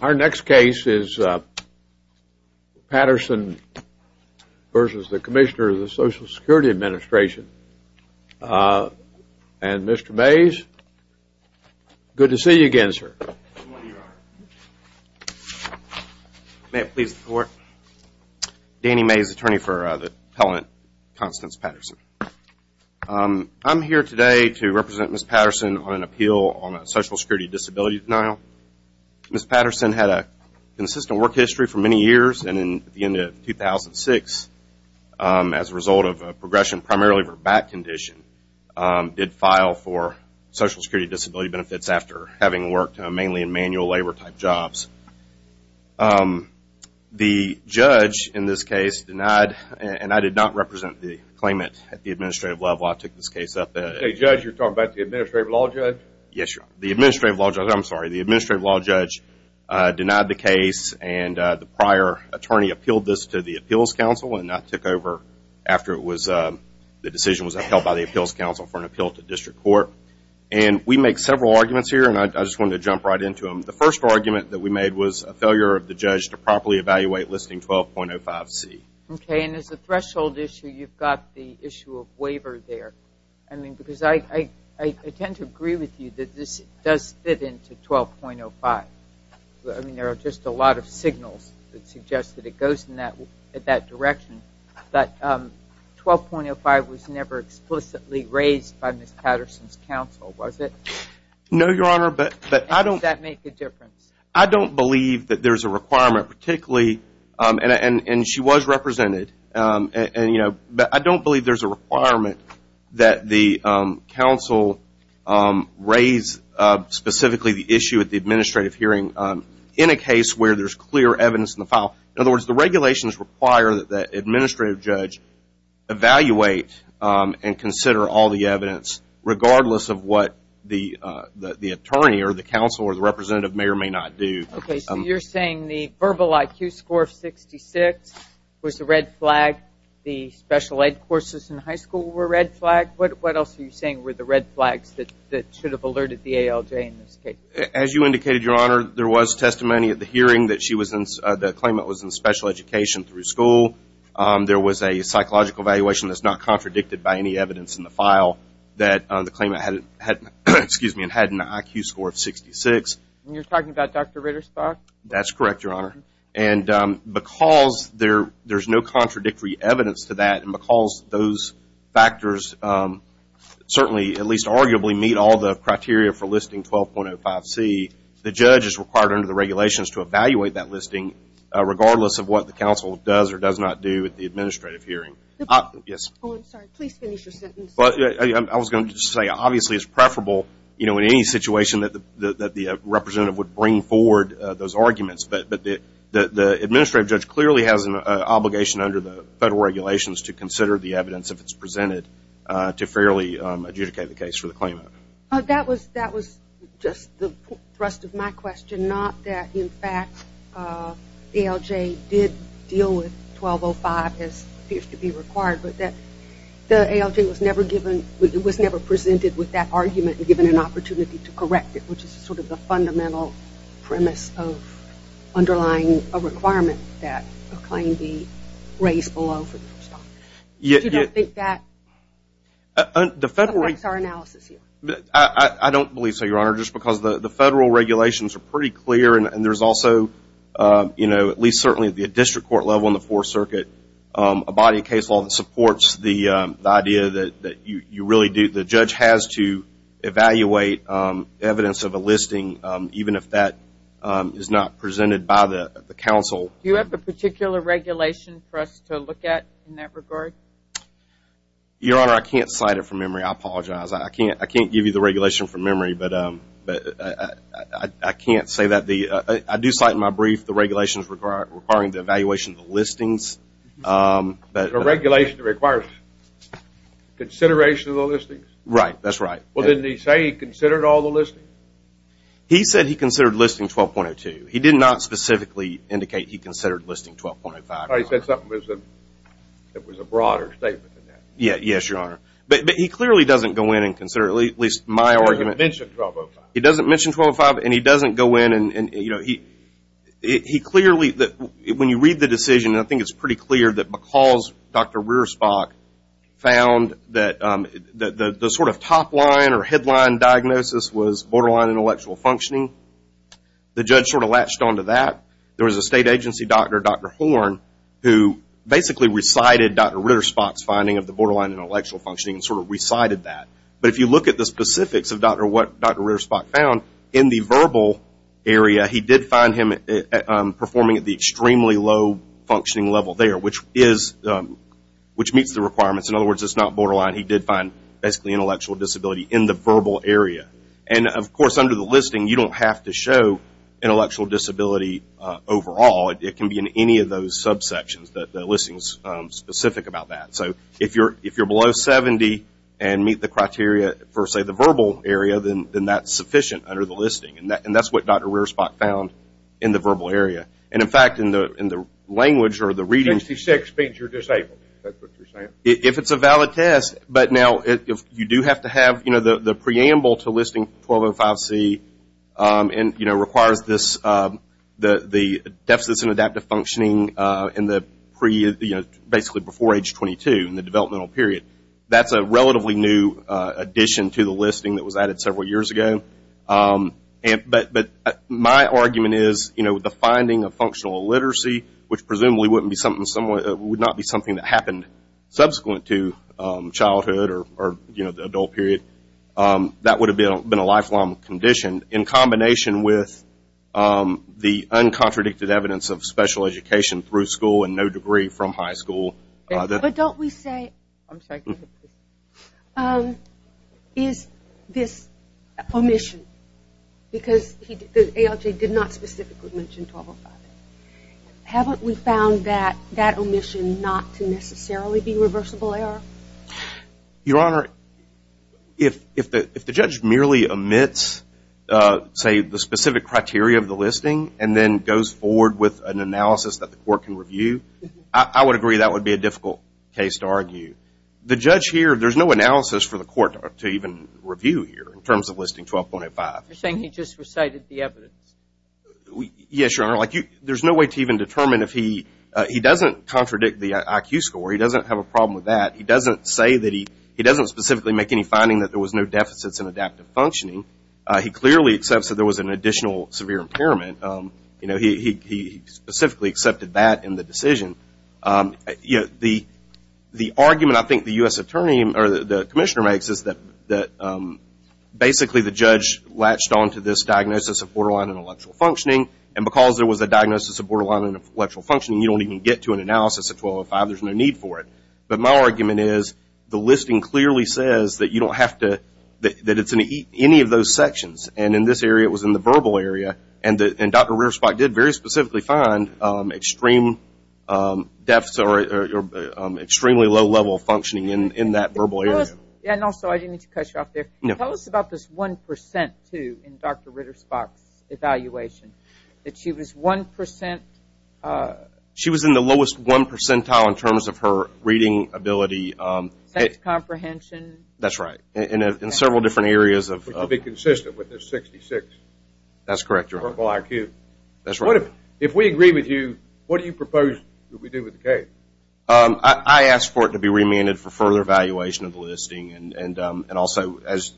Our next case is Patterson versus the Commissioner of the Social Security Administration. And Mr. Mays, good to see you again, sir. May it please the court, Danny Mays, attorney for the appellant Constance Patterson. I'm here today to represent Ms. Patterson on an appeal on a social security disability denial. Ms. Patterson had a consistent work history for many years and at the end of 2006, as a result of a progression primarily of her back condition, did file for social security disability benefits after having worked mainly in manual labor type jobs. The judge, in this case, denied and I did not represent the claimant at the administrative level. I took this case up. Judge, you're talking about the administrative law judge? Yes, the administrative law judge, I'm sorry, the administrative law judge denied the case and the prior attorney appealed this to the appeals council and that took over after the decision was upheld by the appeals council for an appeal to district court. And we make several arguments here and I just wanted to jump right into them. The first argument that we made was a failure of the judge to properly evaluate listing 12.05C. Okay. And as a threshold issue, you've got the issue of waiver there. I mean, because I tend to agree with you that this does fit into 12.05. I mean, there are just a lot of signals that suggest that it goes in that direction, but 12.05 was never explicitly raised by Ms. Patterson's counsel, was it? No, Your Honor. But I don't... Does that make a difference? I don't believe that there's a requirement, particularly, and she was represented, but I don't believe there's a requirement that the counsel raise specifically the issue at the administrative hearing in a case where there's clear evidence in the file. In other words, the regulations require that the administrative judge evaluate and consider all the evidence regardless of what the attorney or the counsel or the representative may or may not do. Okay. So you're saying the verbal IQ score of 66 was the red flag, the special ed courses in high school were a red flag? What else are you saying were the red flags that should have alerted the ALJ in this case? As you indicated, Your Honor, there was testimony at the hearing that she was in... The claimant was in special education through school. There was a psychological evaluation that's not contradicted by any evidence in the file that the claimant had an IQ score of 66. You're talking about Dr. Ritterstock? That's correct, Your Honor. And because there's no contradictory evidence to that and because those factors certainly, at least arguably, meet all the criteria for listing 12.05C, the judge is required under the regulations to evaluate that listing regardless of what the counsel does or does not do at the administrative hearing. Yes? Oh, I'm sorry. Please finish your sentence. I was going to say obviously it's preferable, you know, in any situation that the representative would bring forward those arguments, but the administrative judge clearly has an obligation under the federal regulations to consider the evidence if it's presented to fairly adjudicate the case for the claimant. That was just the thrust of my question, not that, in fact, ALJ did deal with 12.05 as appears to be required, but that the ALJ was never presented with that argument and given an opportunity to correct it, which is sort of the fundamental premise of underlying a requirement that a claim be raised below for Dr. Ritterstock. You don't think that affects our analysis here? I don't believe so, Your Honor, just because the federal regulations are pretty clear and there's also, you know, at least certainly at the district court level and the Fourth Circuit, a body of case law that supports the idea that you really do, the judge has to evaluate evidence of a listing even if that is not presented by the counsel. Do you have a particular regulation for us to look at in that regard? Your Honor, I can't cite it from memory, I apologize, I can't give you the regulation from memory, but I can't say that the, I do cite in my brief the regulations requiring the evaluation of the listings, but A regulation that requires consideration of the listings? Right, that's right. Well, didn't he say he considered all the listings? He said he considered listings 12.02. He did not specifically indicate he considered listing 12.05, Your Honor. Oh, he said something that was a broader statement than that. Yes, Your Honor. But he clearly doesn't go in and consider, at least my argument He doesn't mention 12.05. He doesn't mention 12.05 and he doesn't go in and, you know, he clearly, when you read the decision, I think it's pretty clear that because Dr. Ritterstock found that the sort of top line or headline diagnosis was borderline intellectual functioning, the judge sort of latched onto that. There was a state agency doctor, Dr. Horn, who basically recited Dr. Ritterstock's finding of the borderline intellectual functioning and sort of recited that. But if you look at the specifics of what Dr. Ritterstock found, in the verbal area, he did find him performing at the extremely low functioning level there, which is, which meets the requirements. In other words, it's not borderline. He did find basically intellectual disability in the verbal area. And of course, under the listing, you don't have to show intellectual disability overall. It can be in any of those subsections that the listing is specific about that. So if you're below 70 and meet the criteria for, say, the verbal area, then that's sufficient under the listing. And that's what Dr. Ritterstock found in the verbal area. And in fact, in the language or the reading 66 means you're disabled. Is that what you're saying? If it's a valid test, but now if you do have to have, you know, the preamble to listing 1205C and, you know, requires this, the deficits in adaptive functioning in the pre, you know, basically before age 22 in the developmental period. That's a relatively new addition to the listing that was added several years ago. But my argument is, you know, the finding of functional illiteracy, which presumably wouldn't be something that happened subsequent to childhood or, you know, the adult period, that would have been a lifelong condition in combination with the uncontradicted evidence of special education through school and no degree from high school. But don't we say, is this omission? Because the ALJ did not specifically mention 1205. Haven't we found that that omission not to necessarily be reversible error? Your Honor, if the judge merely omits, say, the specific criteria of the listing and then goes forward with an analysis that the court can review, I would agree that would be a difficult case to argue. The judge here, there's no analysis for the court to even review here in terms of listing 1205. You're saying he just recited the evidence? Yes, Your Honor. Like, there's no way to even determine if he, he doesn't contradict the IQ score. He doesn't have a problem with that. He doesn't say that he, he doesn't specifically make any finding that there was no deficits in adaptive functioning. He clearly accepts that there was an additional severe impairment. You know, he specifically accepted that in the decision. You know, the argument I think the U.S. Attorney or the Commissioner makes is that basically the judge latched onto this diagnosis of borderline intellectual functioning, and because there was a diagnosis of borderline intellectual functioning, you don't even get to an analysis of 1205. There's no need for it. But my argument is the listing clearly says that you don't have to, that it's in any of those sections. And in this area, it was in the verbal area, and Dr. Reersbach did very specifically find extreme deficits or extremely low level functioning in that verbal area. And also, I didn't mean to cut you off there. Tell us about this one percent, too, in Dr. Reersbach's evaluation, that she was one percent. She was in the lowest one percentile in terms of her reading ability. Sex comprehension. That's right. In several different areas. Which would be consistent with this 66. That's correct, Your Honor. Verbal IQ. That's right. If we agree with you, what do you propose that we do with the case? I ask for it to be remanded for further evaluation of the listing, and also, as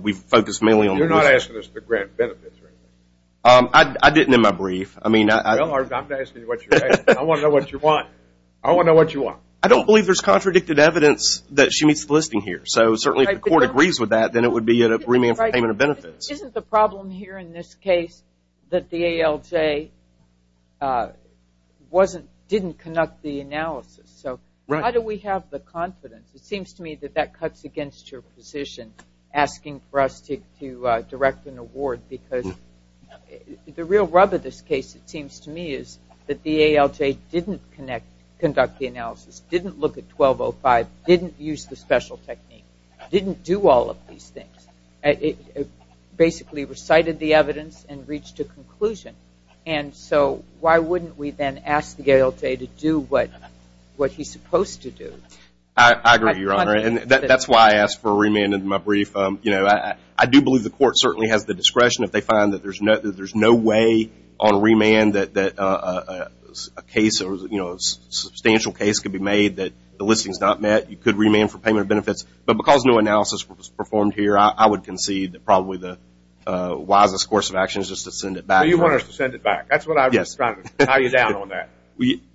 we've focused mainly on the listing. You're not asking us to grant benefits or anything? I didn't in my brief. I mean, I... Well, I'm not asking you what you're asking. I want to know what you want. I want to know what you want. I don't believe there's contradicted evidence that she meets the listing here. So certainly if the court agrees with that, then it would be a remand for payment of benefits. Isn't the problem here in this case that the ALJ didn't conduct the analysis? So how do we have the confidence? It seems to me that that cuts against your position, asking for us to direct an award, because the real rub of this case, it seems to me, is that the ALJ didn't conduct the analysis, didn't look at 1205, didn't use the special technique, didn't do all of these things. It basically recited the evidence and reached a conclusion. And so why wouldn't we then ask the ALJ to do what he's supposed to do? I agree, Your Honor. That's why I asked for a remand in my brief. I do believe the court certainly has the discretion, if they find that there's no way on remand that a case or a substantial case could be made that the listing's not met, you could remand for payment of benefits. But because no analysis was performed here, I would concede that probably the wisest course of action is just to send it back. You want us to send it back. That's what I was trying to tie you down on that.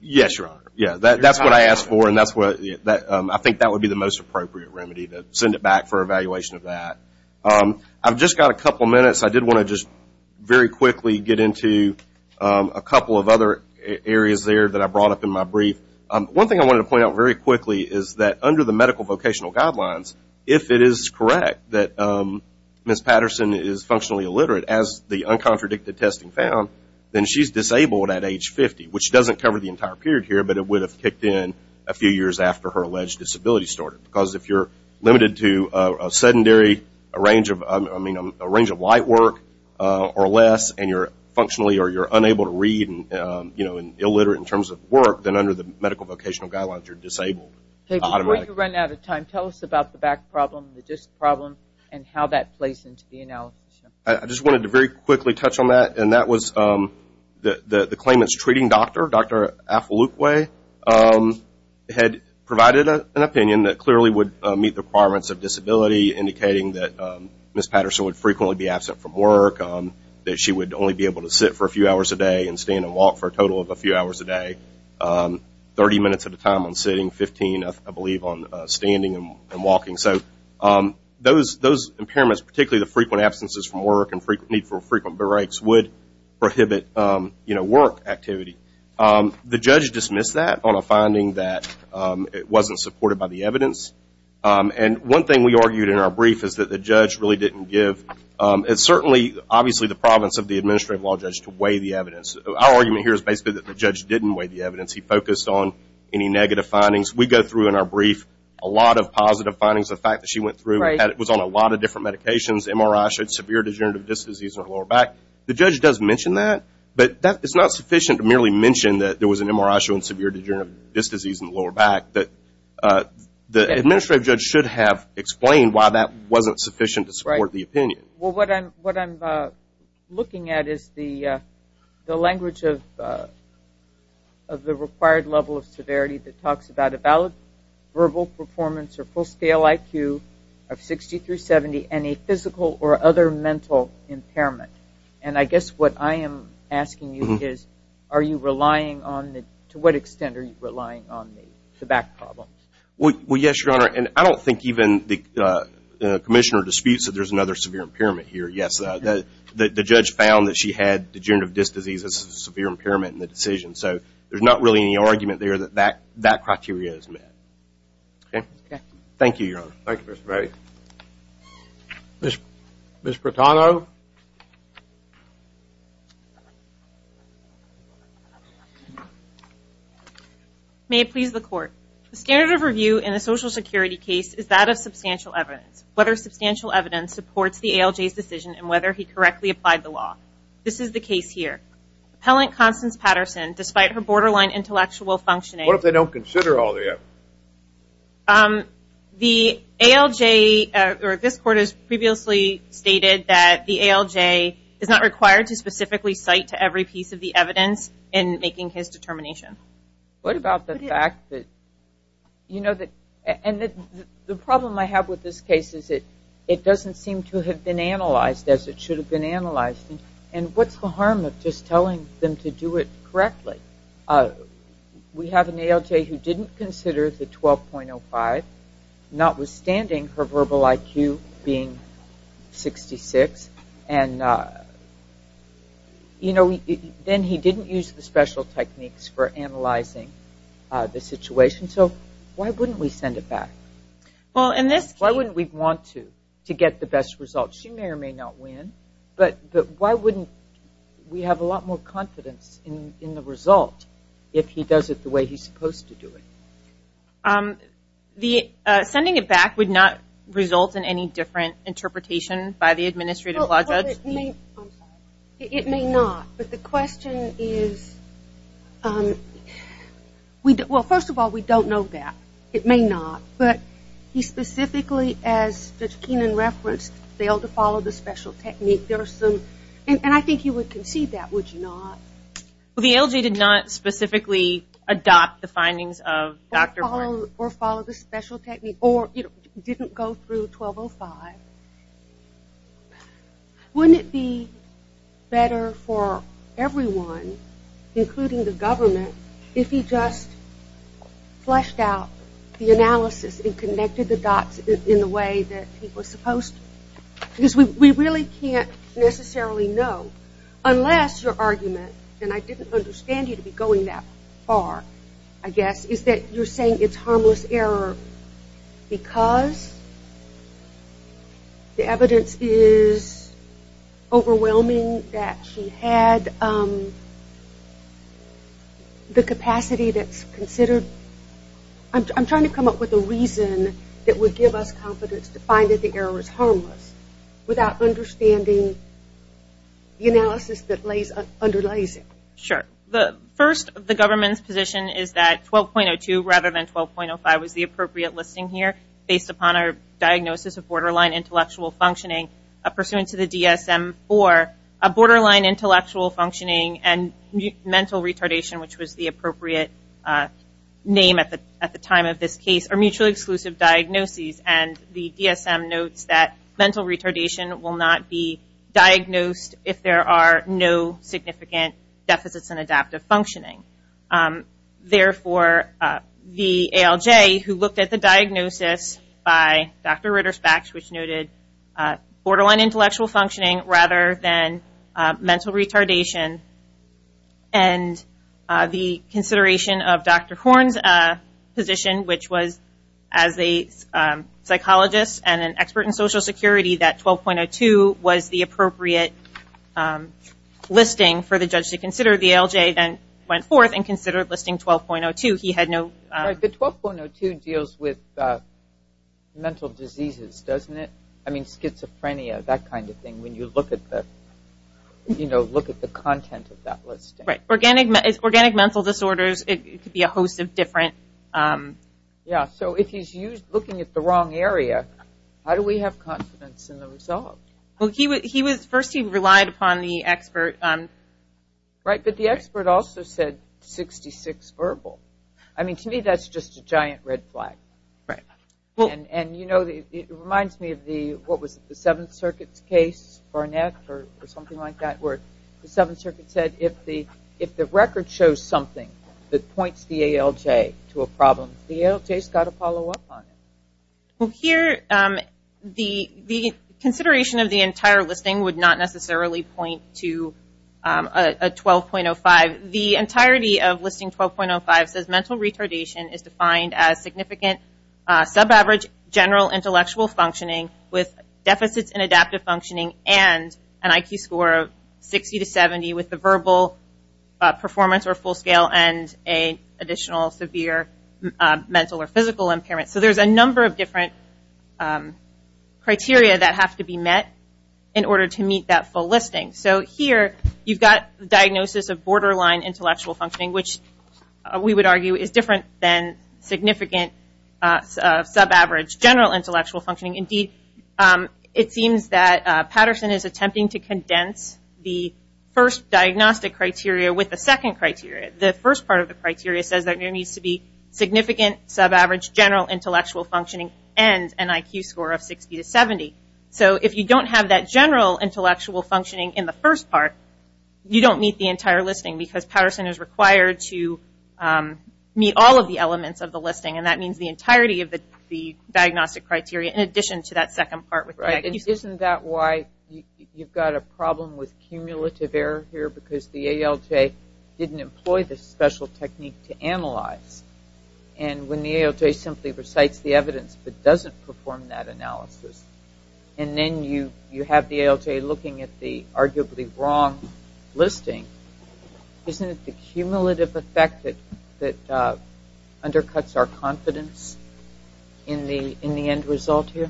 Yes, Your Honor. That's what I asked for, and I think that would be the most appropriate remedy, to send it back for evaluation of that. I've just got a couple minutes. I did want to just very quickly get into a couple of other areas there that I brought up in my brief. One thing I wanted to point out very quickly is that under the medical vocational guidelines, if it is correct that Ms. Patterson is functionally illiterate, as the uncontradicted testing found, then she's disabled at age 50, which doesn't cover the entire period here, but it would have kicked in a few years after her alleged disability started. Because if you're limited to a range of light work or less, and you're functionally or you're medical vocational guidelines, you're disabled. Before you run out of time, tell us about the back problem, the disc problem, and how that plays into the analysis. I just wanted to very quickly touch on that, and that was the claimant's treating doctor, Dr. Affolukwe, had provided an opinion that clearly would meet the requirements of disability, indicating that Ms. Patterson would frequently be absent from work, that she would only be 30 minutes at a time on sitting, 15, I believe, on standing and walking. So those impairments, particularly the frequent absences from work and need for frequent breaks would prohibit work activity. The judge dismissed that on a finding that it wasn't supported by the evidence, and one thing we argued in our brief is that the judge really didn't give – it's certainly, obviously – our argument here is basically that the judge didn't weigh the evidence. He focused on any negative findings. We go through in our brief a lot of positive findings. The fact that she went through, was on a lot of different medications, MRI showed severe degenerative disc disease in her lower back. The judge does mention that, but it's not sufficient to merely mention that there was an MRI showing severe degenerative disc disease in the lower back. The administrative judge should have explained why that wasn't sufficient to support the opinion. Well, what I'm looking at is the language of the required level of severity that talks about a valid verbal performance or full-scale IQ of 60 through 70 and a physical or other mental impairment. And I guess what I am asking you is, are you relying on the – to what extent are you relying on the back problems? Well, yes, Your Honor, and I don't think even the commissioner disputes that there's another severe impairment here. Yes, the judge found that she had degenerative disc disease as a severe impairment in the decision. So, there's not really any argument there that that criteria is met. Thank you, Your Honor. Thank you, Mr. Brady. Ms. Britano? May it please the Court. The standard of review in a Social Security case is that of substantial evidence. Whether substantial evidence supports the ALJ's decision and whether he correctly applied the law. This is the case here. Appellant Constance Patterson, despite her borderline intellectual functioning – What if they don't consider all the evidence? The ALJ – or this Court has previously stated that the ALJ is not required to specifically cite to every piece of the evidence in making his determination. What about the fact that – and the problem I have with this case is it doesn't seem to have been analyzed as it should have been analyzed, and what's the harm of just telling them to do it correctly? We have an ALJ who didn't consider the 12.05, notwithstanding her verbal IQ being 66, and then he didn't use the special techniques for analyzing the situation, so why wouldn't we send it back? Why wouldn't we want to, to get the best result? She may or may not win, but why wouldn't we have a lot more confidence in the result if he does it the way he's supposed to do it? Sending it back would not result in any different interpretation by the administrative law judge? It may not, but the question is – well, first of all, we don't know that. It may not, but he specifically, as Judge Keenan referenced, failed to follow the special technique. There are some – and I think he would concede that, would you not? The ALJ did not specifically adopt the findings of Dr. Horne? Or follow the special technique, or didn't go through 12.05. Wouldn't it be better for everyone, including the government, if he just fleshed out the analysis and connected the dots in the way that he was supposed to? Because we really can't necessarily know, unless your argument – and I didn't understand you to be going that far, I guess – is that you're saying it's harmless error because the evidence is overwhelming that she had the capacity that's considered – I'm not saying it's harmless, without understanding the analysis that underlies it. Sure. First, the government's position is that 12.02, rather than 12.05, was the appropriate listing here, based upon our diagnosis of borderline intellectual functioning. Pursuant to the DSM-IV, a borderline intellectual functioning and mental retardation, which was the appropriate name at the time of this case, are mutually exclusive diagnoses. The DSM notes that mental retardation will not be diagnosed if there are no significant deficits in adaptive functioning. Therefore, the ALJ, who looked at the diagnosis by Dr. Ritter-Spach, which noted borderline intellectual functioning rather than mental retardation, and the consideration of Dr. Ritter-Spach, a psychologist and an expert in Social Security, that 12.02 was the appropriate listing for the judge to consider, the ALJ then went forth and considered listing 12.02. He had no – Right. The 12.02 deals with mental diseases, doesn't it? I mean, schizophrenia, that kind of thing, when you look at the – you know, look at the content of that listing. Right. Organic mental disorders, it could be a host of different – Yeah. So, if he's looking at the wrong area, how do we have confidence in the result? Well, he was – first, he relied upon the expert – Right. But the expert also said 66 verbal. I mean, to me, that's just a giant red flag. Right. Well – And, you know, it reminds me of the – what was it? The Seventh Circuit's case, Barnett, or something like that, where the Seventh Circuit said if the record shows something that points the ALJ to a problem, the ALJ's got to follow up on it. Well, here, the consideration of the entire listing would not necessarily point to a 12.05. The entirety of listing 12.05 says mental retardation is defined as significant sub-average general intellectual functioning with deficits in adaptive functioning and an IQ score of 60 to 70 with the verbal performance or full scale and an additional severe mental or physical impairment. So, there's a number of different criteria that have to be met in order to meet that full listing. So, here, you've got the diagnosis of borderline intellectual functioning, which we would argue is different than significant sub-average general intellectual functioning. Indeed, it seems that Patterson is attempting to condense the first diagnostic criteria with the second criteria. The first part of the criteria says there needs to be significant sub-average general intellectual functioning and an IQ score of 60 to 70. So, if you don't have that general intellectual functioning in the first part, you don't meet the entire listing because Patterson is required to meet all of the elements of the listing. That means the entirety of the diagnostic criteria in addition to that second part. Isn't that why you've got a problem with cumulative error here because the ALJ didn't employ the special technique to analyze? When the ALJ simply recites the evidence but doesn't perform that analysis, and then you have the ALJ looking at the arguably wrong listing, isn't it the cumulative effect that undercuts our confidence in the end result here?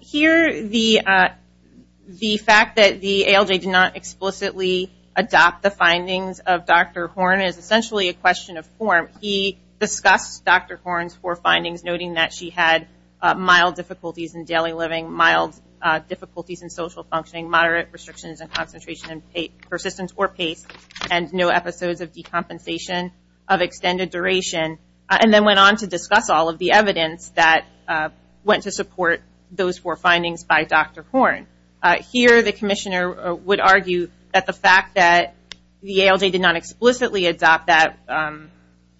Here, the fact that the ALJ did not explicitly adopt the findings of Dr. Horn is essentially a question of form. He discussed Dr. Horn's four findings, noting that she had mild difficulties in daily living, mild difficulties in social functioning, moderate restrictions in concentration and persistence or pace, and no episodes of decompensation of extended duration. And then went on to discuss all of the evidence that went to support those four findings by Dr. Horn. Here, the commissioner would argue that the fact that the ALJ did not explicitly adopt that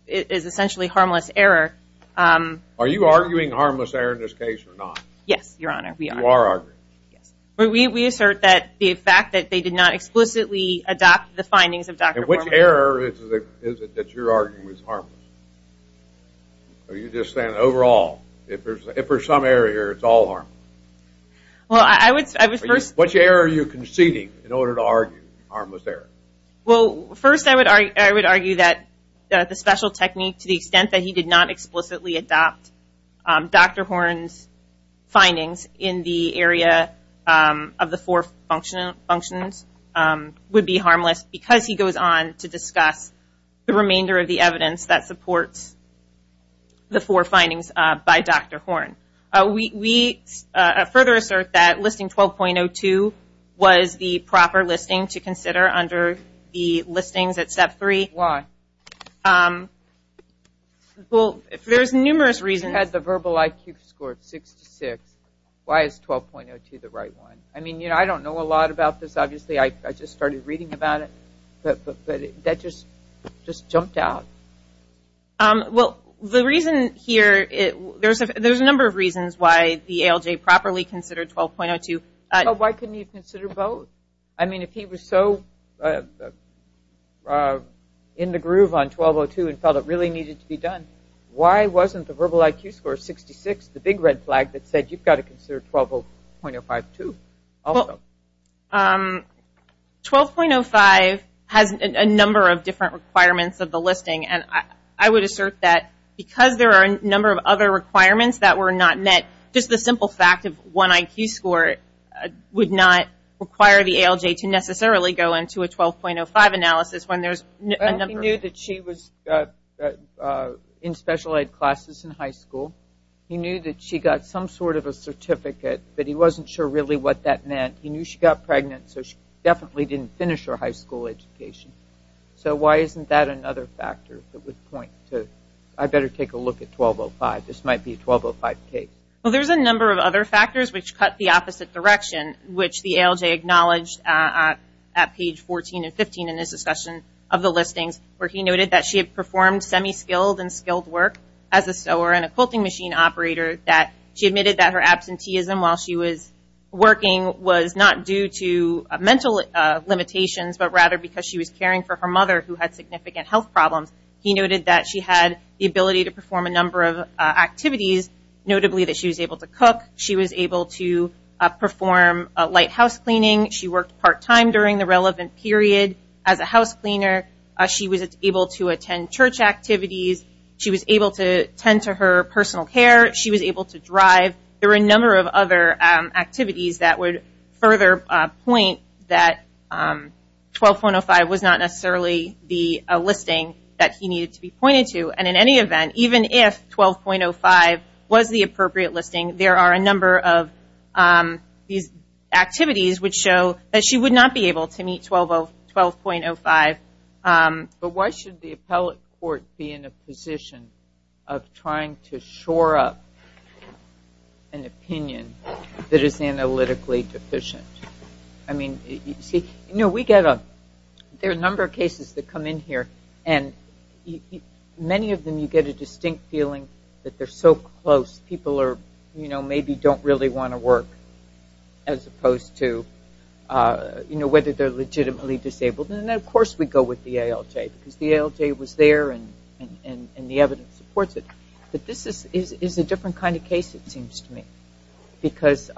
is essentially harmless error. Are you arguing harmless error in this case or not? Yes, Your Honor, we are. You are arguing. Yes. We assert that the fact that they did not explicitly adopt the findings of Dr. Horn Which error is it that you're arguing is harmless? Are you just saying overall, if there's some error here, it's all harmless? Well, I would say, I would first... Which error are you conceding in order to argue harmless error? Well, first I would argue that the special technique to the extent that he did not explicitly adopt Dr. Horn's findings in the area of the four functions would be harmless because he goes on to discuss the remainder of the evidence that supports the four findings by Dr. Horn. We further assert that listing 12.02 was the proper listing to consider under the listings at step three. Why? Well, there's numerous reasons. If you had the verbal IQ score of 6 to 6, why is 12.02 the right one? I mean, you know, I don't know a lot about this. Obviously, I just started reading about it, but that just jumped out. Well, the reason here, there's a number of reasons why the ALJ properly considered 12.02. Well, why couldn't you consider both? I mean, if he was so in the groove on 12.02 and felt it really needed to be done, why wasn't the verbal IQ score 66, the big red flag that said you've got to consider 12.05 too? Well, 12.05 has a number of different requirements of the listing, and I would assert that because there are a number of other requirements that were not met, just the simple fact of one IQ score would not require the ALJ to necessarily go into a 12.05 analysis when there's a number of other factors. He knew that she was in special ed classes in high school. He knew that she got some sort of a certificate, but he wasn't sure really what that meant. He knew she got pregnant, so she definitely didn't finish her high school education. So why isn't that another factor that would point to, I better take a look at 12.05. This might be a 12.05 case. Well, there's a number of other factors which cut the opposite direction, which the ALJ acknowledged at page 14 and 15 in this discussion of the listings, where he noted that she had performed semi-skilled and skilled work as a sewer and a quilting machine operator, that she admitted that her absenteeism while she was working was not due to mental limitations, but rather because she was caring for her mother who had significant health problems. He noted that she had the ability to perform a number of activities, notably that she was able to cook, she was able to perform light house cleaning, she worked part-time during the relevant period as a house cleaner, she was able to attend church activities, she was able to tend to her personal care, she was able to drive. There were a number of other activities that would further point that 12.05 was not necessarily the listing that he needed to be pointed to, and in any event, even if 12.05 was the appropriate listing, there are a number of these activities which show that she would not be able to meet 12.05. Why should the appellate court be in a position of trying to shore up an opinion that is analytically deficient? There are a number of cases that come in here, and many of them you get a distinct feeling that they're so close, people maybe don't really want to work, as opposed to, you know, whether they're legitimately disabled, and of course we go with the ALJ, because the ALJ was there and the evidence supports it, but this is a different kind of case, it seems to me, because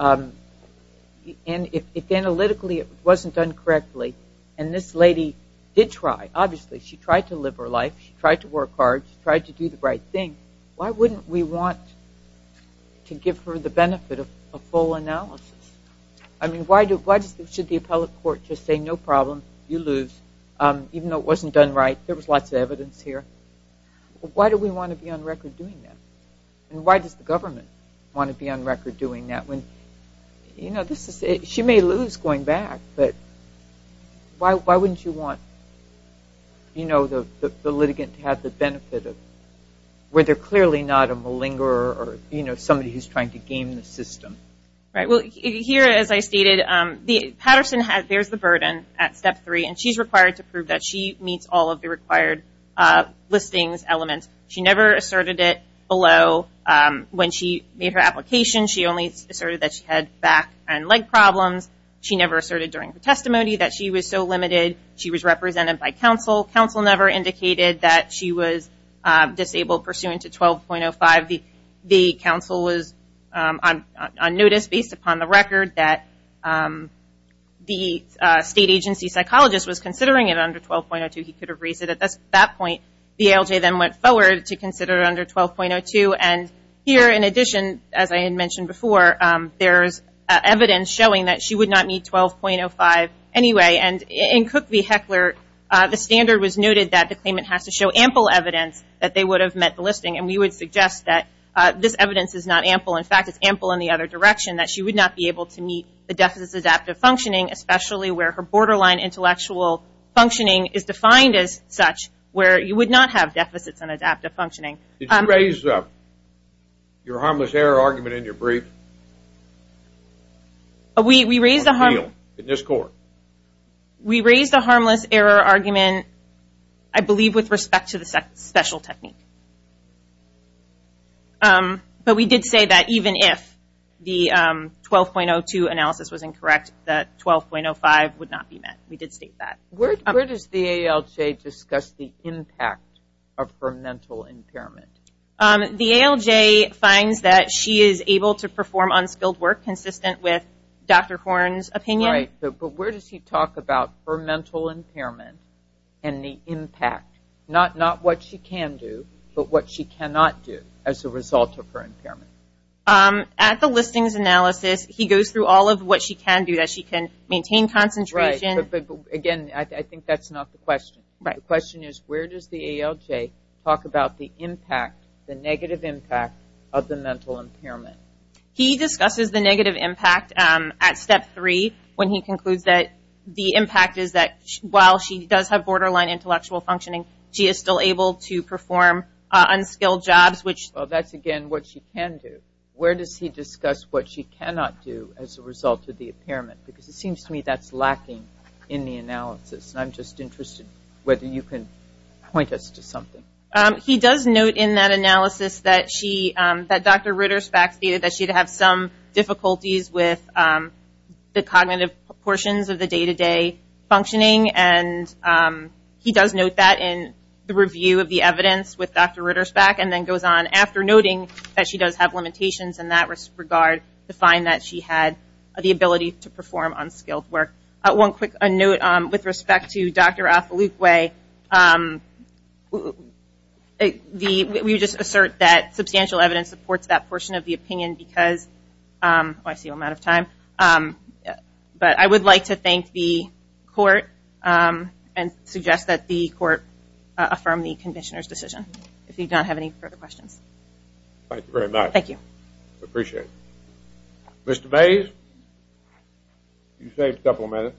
if analytically it wasn't done correctly, and this lady did try, obviously, she tried to live her life, she tried to work hard, she tried to do the right thing, why wouldn't we want to give her the benefit of a full analysis? I mean, why should the appellate court just say, no problem, you lose, even though it wasn't done right, there was lots of evidence here. Why do we want to be on record doing that, and why does the government want to be on record doing that, when, you know, she may lose going back, but why wouldn't you want the litigant to have the benefit of, where they're clearly not a malinger, or, you know, somebody who's trying to game the system? Right, well, here, as I stated, Patterson bears the burden at step three, and she's required to prove that she meets all of the required listings elements. She never asserted it below, when she made her application, she only asserted that she had back and leg problems, she never asserted during her testimony that she was so limited, she was represented by counsel, counsel never indicated that she was disabled pursuant to 12.05, the counsel was on notice, based upon the record, that the state agency psychologist was considering it under 12.02, he could have raised it at that point, the ALJ then went forward to consider it under 12.02, and here, in addition, as I had mentioned before, there's evidence showing that she would not meet 12.05 anyway, and in Cook v. Heckler, the standard was noted that the claimant has to show ample evidence that they would have met the listing, and we would suggest that this evidence is not ample, in fact, it's ample in the other direction, that she would not be able to meet the deficits adaptive functioning, especially where her borderline intellectual functioning is defined as such, where you would not have deficits in adaptive functioning. Did you raise your harmless error argument in your brief? We raised the harmless error argument, I believe, with respect to the special technique, but we did say that even if the 12.02 analysis was incorrect, that 12.05 would not be met, we did state that. Where does the ALJ discuss the impact of her mental impairment? The ALJ finds that she is able to perform unskilled work consistent with Dr. Horn's opinion. Right, but where does he talk about her mental impairment and the impact, not what she can do, but what she cannot do as a result of her impairment? At the listings analysis, he goes through all of what she can do, that she can maintain concentration. Right, but again, I think that's not the question. The question is, where does the ALJ talk about the impact, the negative impact, of the mental impairment? He discusses the negative impact at step three, when he concludes that the impact is that while she does have borderline intellectual functioning, she is still able to perform unskilled jobs, which... Well, that's again, what she can do. Where does he discuss what she cannot do as a result of the impairment, because it seems to me that's lacking in the analysis, and I'm just interested whether you can point us to something. He does note in that analysis that Dr. Ritter-Spack stated that she'd have some difficulties with the cognitive portions of the day-to-day functioning, and he does note that in the review of the evidence with Dr. Ritter-Spack, and then goes on after noting that she does have limitations in that regard, to find that she had the ability to perform unskilled work. One quick note, with respect to Dr. Othelukwe, we just assert that substantial evidence supports that portion of the opinion because, oh, I see I'm out of time, but I would like to thank the court and suggest that the court affirm the conditioner's decision, if you don't have any further questions. Thank you very much. Thank you. I appreciate it. Mr. Bays, you saved a couple of minutes.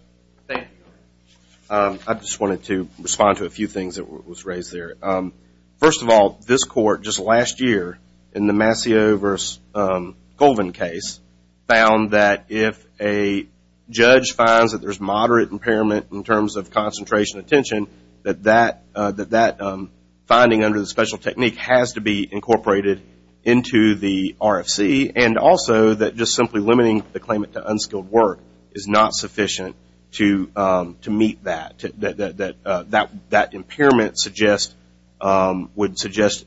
Thank you. I just wanted to respond to a few things that was raised there. First of all, this court, just last year, in the Mascio v. Colvin case, found that if a judge finds that there's moderate impairment in terms of concentration of attention, that that finding under the special technique has to be incorporated into the RFC, and also that just simply limiting the claimant to unskilled work is not sufficient to meet that. That impairment would suggest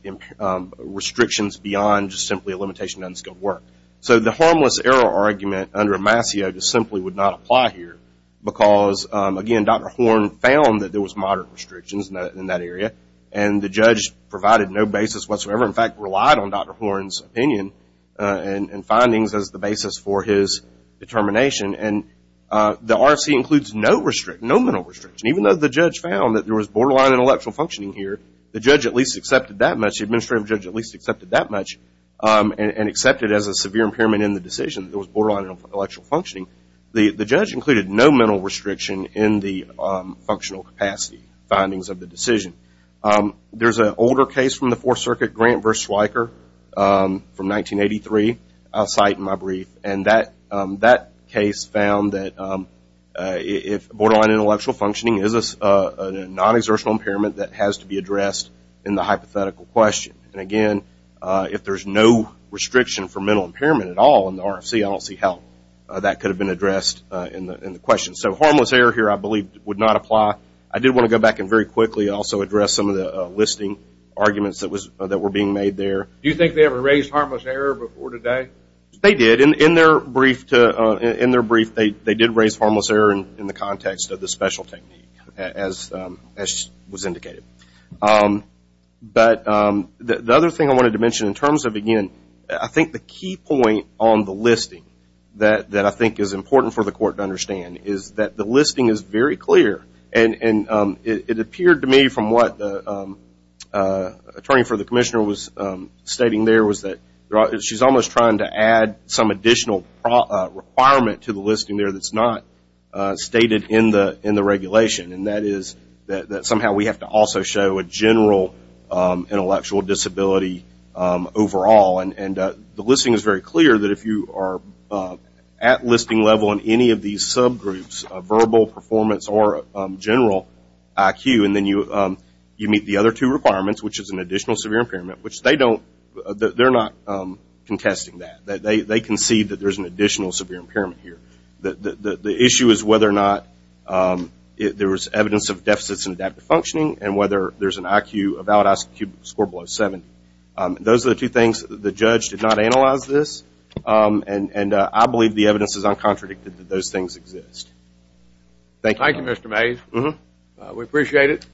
restrictions beyond just simply a limitation on unskilled work. The harmless error argument under Mascio simply would not apply here because, again, Dr. Horn found that there was moderate restrictions in that area, and the judge provided no basis whatsoever, in fact, relied on Dr. Horn's opinion and findings as the basis for his determination. The RFC includes no mental restriction. Even though the judge found that there was borderline intellectual functioning here, the judge at least accepted that much, the administrative judge at least accepted that much and accepted as a severe impairment in the decision that there was borderline intellectual capacity findings of the decision. There's an older case from the Fourth Circuit, Grant v. Schweiker, from 1983, I'll cite in my brief, and that case found that if borderline intellectual functioning is a non-exertional impairment that has to be addressed in the hypothetical question, and again, if there's no restriction for mental impairment at all in the RFC, I don't see how that could have been addressed in the question. So harmless error here, I believe, would not apply. I did want to go back and very quickly also address some of the listing arguments that were being made there. Do you think they ever raised harmless error before today? They did. In their brief, they did raise harmless error in the context of the special technique, as was indicated. But the other thing I wanted to mention in terms of, again, I think the key point on the court to understand is that the listing is very clear, and it appeared to me from what the attorney for the commissioner was stating there was that she's almost trying to add some additional requirement to the listing there that's not stated in the regulation, and that is that somehow we have to also show a general intellectual disability overall, and the listing is very clear that if you are at listing level in any of these subgroups, verbal, performance, or general IQ, and then you meet the other two requirements, which is an additional severe impairment, which they don't, they're not contesting that. They concede that there's an additional severe impairment here. The issue is whether or not there was evidence of deficits in adaptive functioning, and whether there's an IQ, a valid IQ score below 70. Those are the two things. The judge did not analyze this, and I believe the evidence is uncontradicted that those things exist. Thank you. Thank you, Mr. Mays. We appreciate it.